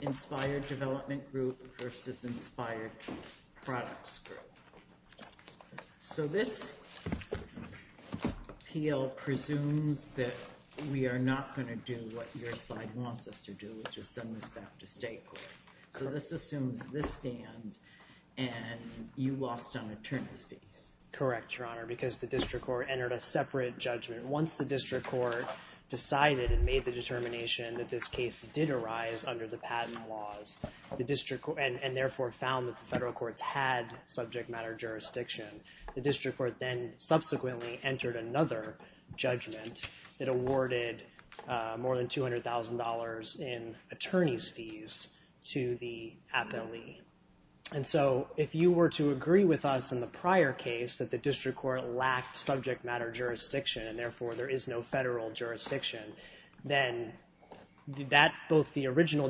Inspired Development Group v. Inspired Products Group. So this P.L. presumes that we are not going to do what your side wants us to do, which is send this back to state court. So this assumes this stands and you lost on attorneys fees. Correct, Your Honor, because the district court entered a separate judgment. Once the district court decided and made the determination that this case did arise under the patent laws, and therefore found that the federal courts had subject matter jurisdiction, the district court then subsequently entered another judgment that awarded more than $200,000 in attorneys fees to the appellee. And so if you were to agree with us in the prior case that the district court lacked subject matter jurisdiction and therefore there is no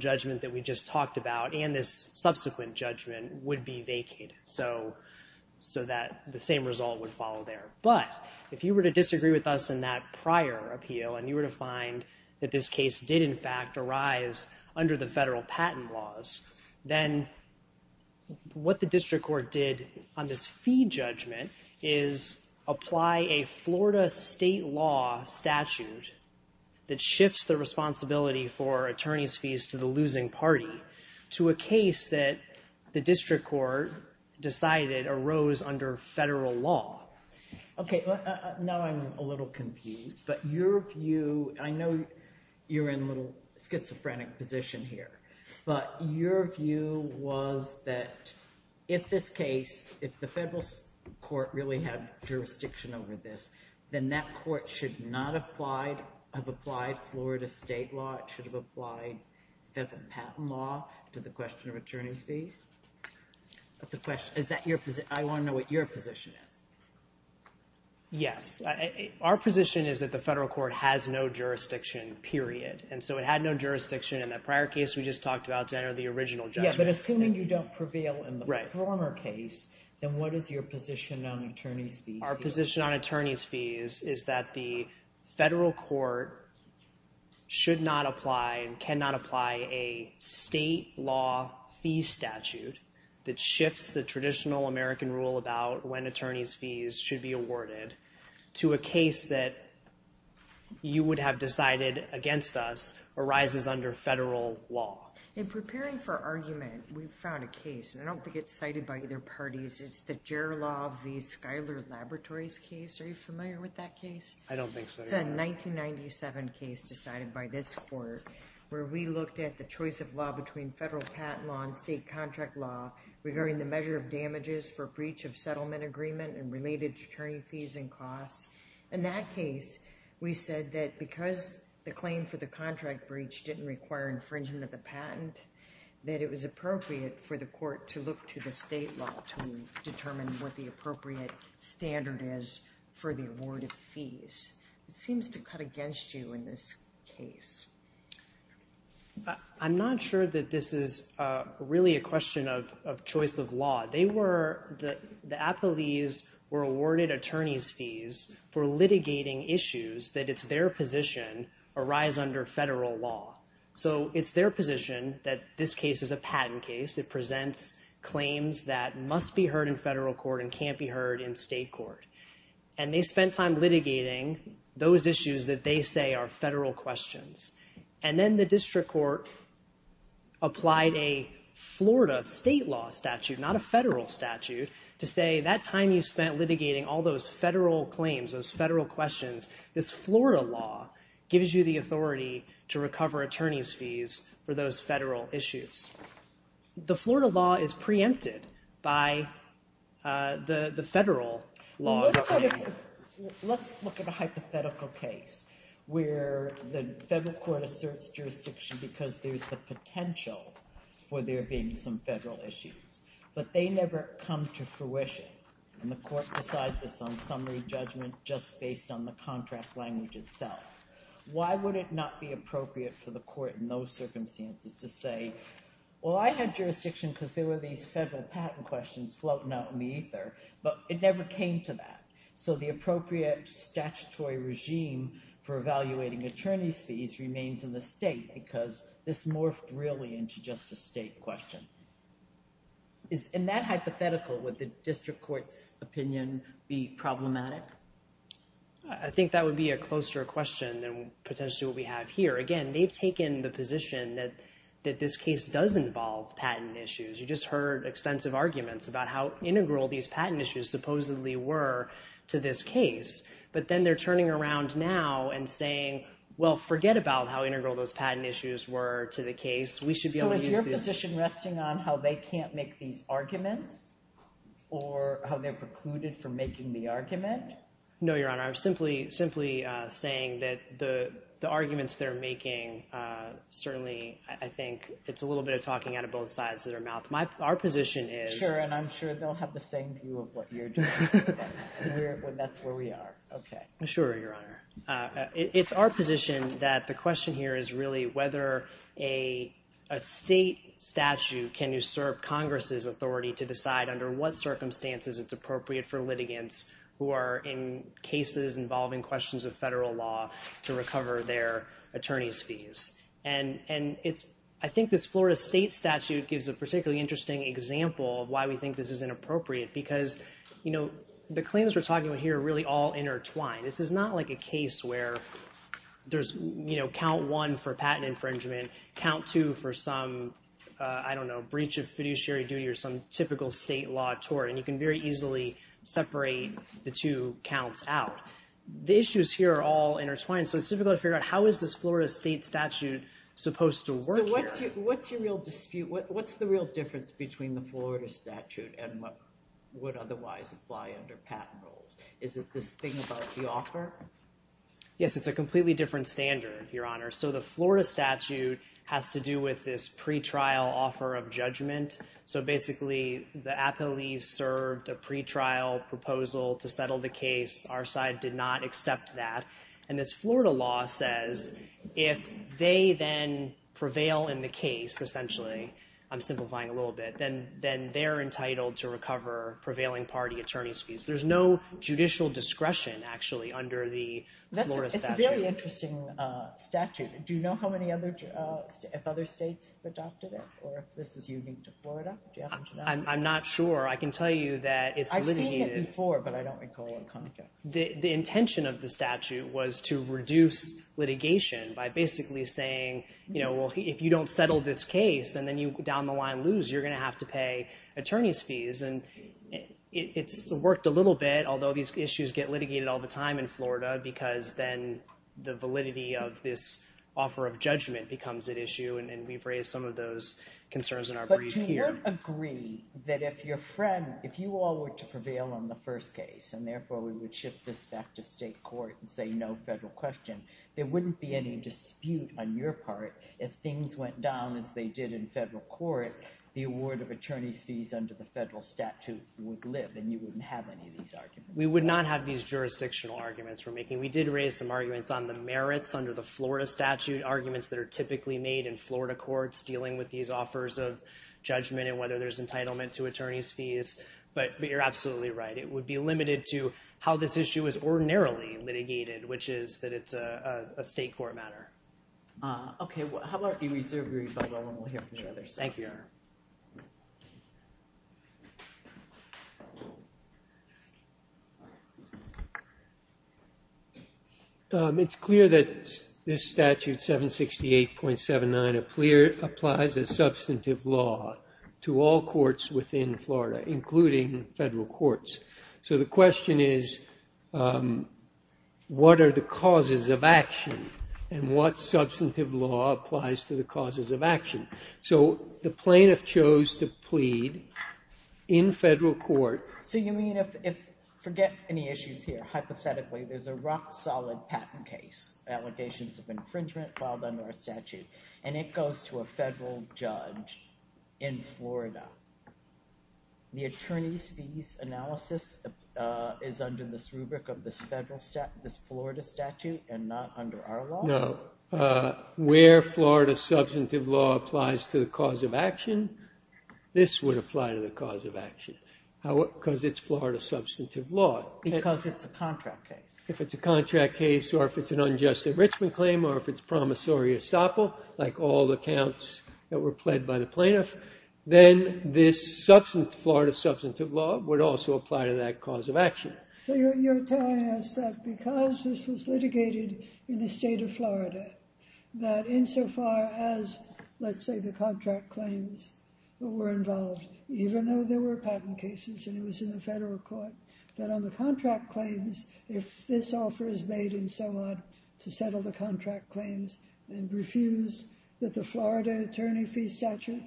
judgment that we just talked about and this subsequent judgment would be vacated. So that the same result would follow there. But if you were to disagree with us in that prior appeal and you were to find that this case did in fact arise under the federal patent laws, then what the district court did on this fee judgment is apply a Florida state law statute that shifts the responsibility for attorneys fees to the losing party to a case that the district court decided arose under federal law. Okay, now I'm a little confused, but your view, I know you're in a little schizophrenic position here, but your view was that if this case, if the federal court really had jurisdiction over this, then that court should not have applied Florida state law, it should have applied the patent law to the question of attorneys fees? That's a question, is that your position? I want to know what your position is. Yes, our position is that the federal court has no jurisdiction, period. And so it had no jurisdiction in that prior case we just talked about to enter the original judgment. Yeah, but assuming you don't prevail in the former case, then what is your position on attorneys fees? Our position on attorneys fees is that the federal court should not apply and cannot apply a state law fee statute that shifts the traditional American rule about when attorneys fees should be awarded to a case that you would have decided against us arises under federal law. In preparing for argument, we found a case, and I don't think it's cited by either parties, it's the Gerr Law v. Schuyler Laboratories case. Are you familiar with that case? I don't think so. It's a 1997 case decided by this court where we looked at the choice of law between federal patent law and state contract law regarding the measure of damages for breach of settlement agreement and related attorney fees and costs. In that case, we said that because the claim for the contract breach didn't require infringement of the patent, that it was appropriate for the court to look to the state law to determine what the appropriate standard is for the award of fees. It seems to cut against you in this case. I'm not sure that this is really a question of choice of law. The appellees were awarded attorneys fees for litigating issues that, it's their position, arise under federal law. So it's their position that this case is a patent case. It presents claims that must be heard in federal court and can't be heard in state court. And they spent time litigating those issues that they say are federal questions. And then the district court applied a Florida state law statute, not a federal statute, to say that time you spent litigating all those federal claims, those federal questions, this Florida law gives you the authority to recover attorneys fees for those federal issues. The Florida law is preempted by the federal law. Let's look at a hypothetical case where the federal court asserts jurisdiction because there's the potential for there being some federal issues. But they never come to fruition. And the court decides this on summary judgment just based on the contract language itself. Why would it not be appropriate for the court in those circumstances to say, well, I had jurisdiction because there were these federal patent questions floating out in the ether, but it never came to that. So the appropriate statutory regime for evaluating attorneys fees remains in the state because this morphed really into just a state question. In that I think that would be a closer question than potentially what we have here. Again, they've taken the position that this case does involve patent issues. You just heard extensive arguments about how integral these patent issues supposedly were to this case. But then they're turning around now and saying, well, forget about how integral those patent issues were to the case. We should be able to use this. So is your position resting on how they can't make these arguments or how they're No, Your Honor. I'm simply saying that the arguments they're making, certainly I think it's a little bit of talking out of both sides of their mouth. Our position is... Sure, and I'm sure they'll have the same view of what you're doing. That's where we are. Okay. Sure, Your Honor. It's our position that the question here is really whether a state statute can usurp Congress's authority to decide under what circumstances it's appropriate for litigants who are in cases involving questions of federal law to recover their attorney's fees. I think this Florida state statute gives a particularly interesting example of why we think this is inappropriate because the claims we're talking about here are really all intertwined. This is not like a case where there's count one for patent infringement, count two for some, I don't know, breach of fiduciary duty or some typical state law tort, and you can very easily separate the two counts out. The issues here are all intertwined, so it's difficult to figure out how is this Florida state statute supposed to work here. So what's your real dispute? What's the real difference between the Florida statute and what would otherwise apply under patent rules? Is it this thing about the offer? Yes, it's a completely different standard, Your Honor. So the Florida statute has to do with this pretrial offer of judgment, so basically the appellees served a pretrial proposal to settle the case. Our side did not accept that, and this Florida law says if they then prevail in the case, essentially, I'm simplifying a little bit, then they're entitled to recover prevailing party attorney's fees. There's no judicial discretion, actually, under the Florida statute. That's a very interesting statute. Do you know how other states adopted it, or if this is unique to Florida? I'm not sure. I can tell you that it's litigated. I've seen it before, but I don't recall the context. The intention of the statute was to reduce litigation by basically saying, you know, well, if you don't settle this case, and then you down the line lose, you're gonna have to pay attorney's fees. And it's worked a little bit, although these issues get litigated all the time in Florida, because then the validity of this offer of judgment becomes at issue, and we've raised some of those concerns in our brief here. But do you agree that if your friend, if you all were to prevail on the first case, and therefore we would shift this back to state court and say no federal question, there wouldn't be any dispute on your part if things went down as they did in federal court, the award of attorney's fees under the federal statute would live, and you wouldn't have any of these arguments. We would not have these jurisdictional arguments we're making. We did raise some arguments on the merits under the Florida statute, arguments that are typically made in Florida courts dealing with these offers of judgment and whether there's entitlement to attorney's fees, but you're absolutely right. It would be limited to how this issue is ordinarily litigated, which is that it's a state court matter. Okay, well, how about we reserve your rebuttal, and we'll hear from each other. Thank you, Your Honor. It's clear that this statute 768.79 applies a substantive law to all courts within Florida, including federal courts. So the question is, what are the causes of action, and what substantive law applies to the causes of action? So the plaintiff chose to plead in federal court. So you mean if, forget any issues here, hypothetically, there's a rock-solid patent case, allegations of infringement filed under our statute, and it goes to a federal judge in Florida. The attorney's fees analysis is under this rubric of this Florida statute and not under our law? No. Where Florida substantive law applies to the cause of action, this would apply to the cause of action, because it's Florida substantive law. Because it's a contract case. If it's a contract case, or if it's an unjust enrichment claim, or if it's promissory estoppel, like all the counts that were pled by the plaintiff, then this Florida substantive law would also apply to that cause of action. So you're telling us that because this was litigated in the state of Florida, that insofar as, let's say, the contract claims were involved, even though there were patent cases and it was in the federal court, that on the contract claims, if this offer is made and so on, to settle the contract claims and refused, that the Florida attorney fee statute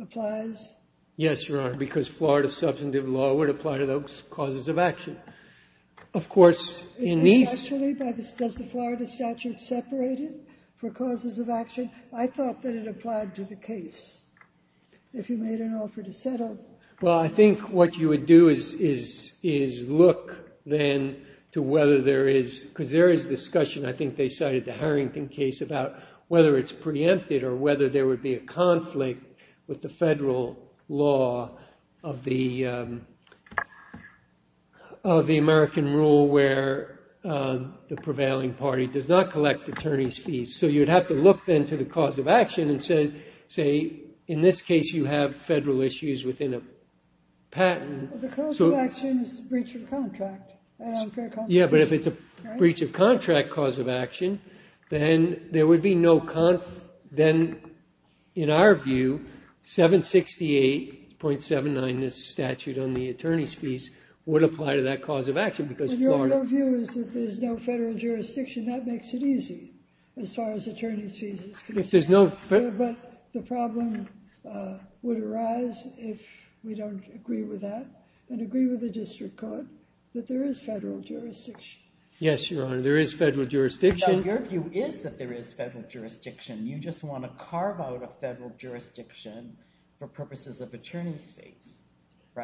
applies? Yes, Your Honor, because Florida substantive law would apply to those causes of action. Of course, in these... Does the Florida statute separate it for causes of action? I thought that it applied to the case. If you made an offer to settle... Well, I think what you would do is look, then, to whether there is, because there is discussion, I think they cited the Harrington case, about whether it's unconstitutional law of the American rule where the prevailing party does not collect attorney's fees. So you'd have to look, then, to the cause of action and say, in this case, you have federal issues within a patent. The cause of action is a breach of contract, an unfair contribution. Yeah, but if it's a breach of contract cause of action, then there would be no... Then, in our view, 768.79, this statute on the attorney's fees, would apply to that cause of action because Florida... But your view is that there's no federal jurisdiction. That makes it easy, as far as attorney's fees. If there's no... But the problem would arise if we don't agree with that and agree with the district court that there is federal jurisdiction. Yes, Your Honor, there is federal jurisdiction. No, your view is that there is federal jurisdiction. You just want to carve out a federal jurisdiction for purposes of attorney's fees.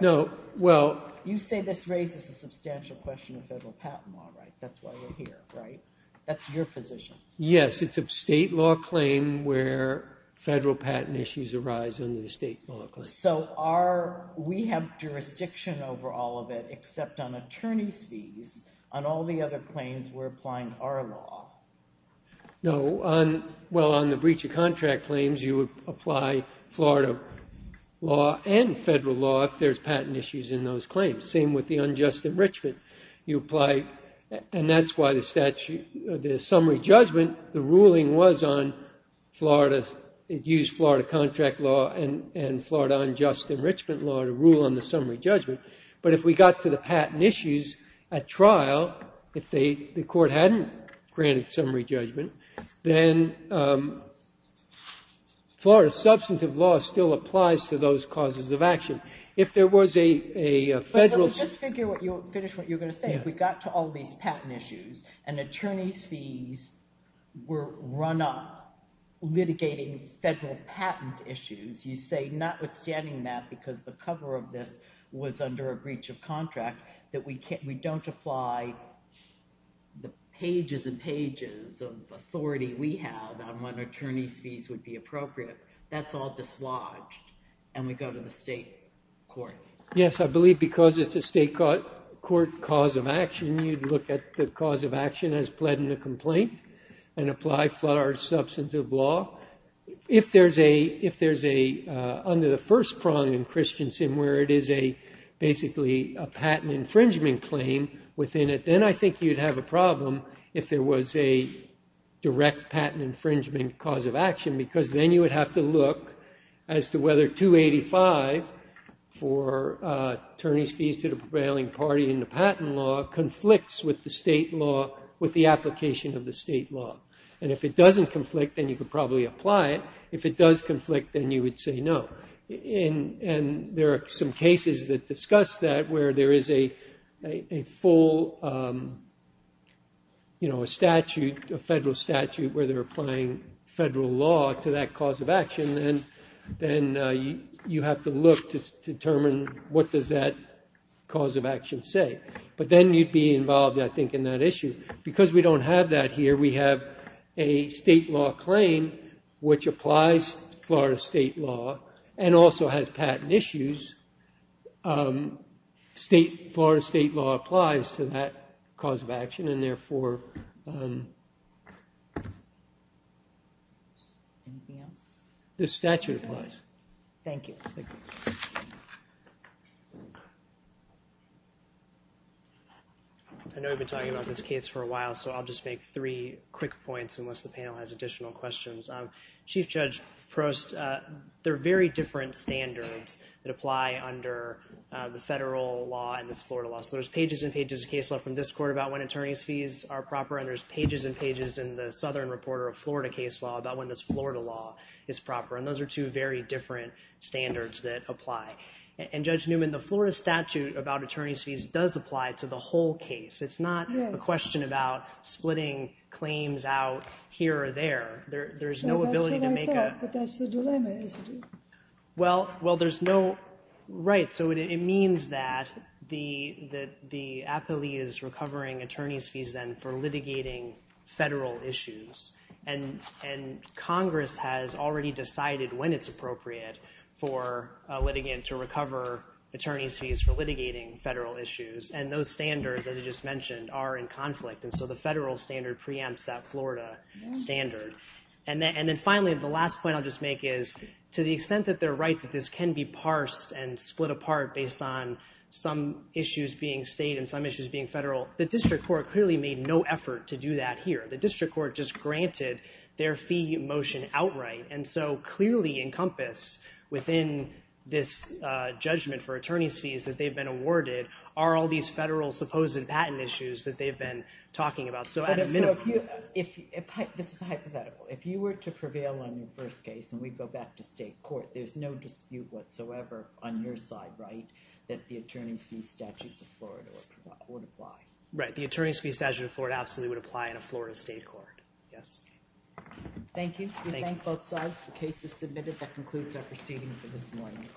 No, well... You say this raises a substantial question of federal patent law, right? That's why we're here, right? That's your position. Yes, it's a state law claim where federal patent issues arise under the state law claim. We have jurisdiction over all of it, except on attorney's fees. On all the other claims, we're applying our law. No, well, on the breach of contract claims, you would apply Florida law and federal law if there's patent issues in those claims. Same with the unjust enrichment. You apply... And that's why the summary judgment, the ruling was on Florida... law to rule on the summary judgment. But if we got to the patent issues at trial, if the court hadn't granted summary judgment, then Florida substantive law still applies to those causes of action. If there was a federal... Let's just finish what you were going to say. If we got to all these patent issues and attorney's fees were run up litigating federal patent issues, you say notwithstanding that, because the cover of this was under a breach of contract, that we don't apply the pages and pages of authority we have on when attorney's fees would be appropriate. That's all dislodged. And we go to the state court. Yes, I believe because it's a state court cause of action, you'd look at the cause of action as pled in a complaint and apply Florida substantive law. If there's a... Under the first prong in Christensen where it is basically a patent infringement claim within it, then I think you'd have a problem if there was a direct patent infringement cause of action, because then you would have to look as to whether 285 for attorney's fees to the prevailing party in the patent law conflicts with the state law, with the application of the state law. And if it doesn't conflict, then you could probably apply it. If it does conflict, then you would say no. And there are some cases that discuss that where there is a full statute, a federal statute where they're applying federal law to that cause of action. And then you have to look to determine what does that cause of action say. But then you'd be involved, I think, in that issue. Because we don't have that here, we have a state law claim which applies Florida state law and also has patent issues. State... Florida state law applies to that cause of action and therefore... Anything else? The statute applies. Thank you. I know we've been talking about this case for a while, so I'll just make three quick points unless the panel has additional questions. Chief Judge Prost, there are very different standards that apply under the federal law and this Florida law. So there's pages and pages of case law from this court about when attorney's fees are proper, and there's pages and pages in the Southern Reporter of Florida case law about when this Florida law is proper. And those are two very different standards that apply. And Judge Newman, the Florida statute about attorney's fees does apply to the whole case. It's not a question about splitting claims out here or there. There's no ability to make a... That's what I thought, but that's the dilemma, isn't it? Well, there's no... Right. So it means that the appellee is recovering attorney's fees then for litigating federal issues. And Congress has already decided when it's appropriate for a litigant to recover attorney's fees for litigating federal issues. And those standards, as you just mentioned, are in conflict. And so the federal standard preempts that Florida standard. And then finally, the last point I'll just make is to the extent that they're right that this can be parsed and split apart based on some issues being state and some issues being federal, the district court clearly made no effort to do that here. The district court just granted their fee motion outright. And so clearly encompassed within this judgment for attorney's fees that they've been awarded are all these federal supposed patent issues that they've been talking about. So at a minimum... This is hypothetical. If you were to prevail on your first case and we go back to state court, there's no dispute whatsoever on your side, right, that the attorney's fee statutes of Florida would apply? Right. The attorney's fee statute of Florida absolutely would apply in a Florida state court. Yes. Thank you. We thank both sides. The case is submitted. That concludes our proceeding for this morning. All rise.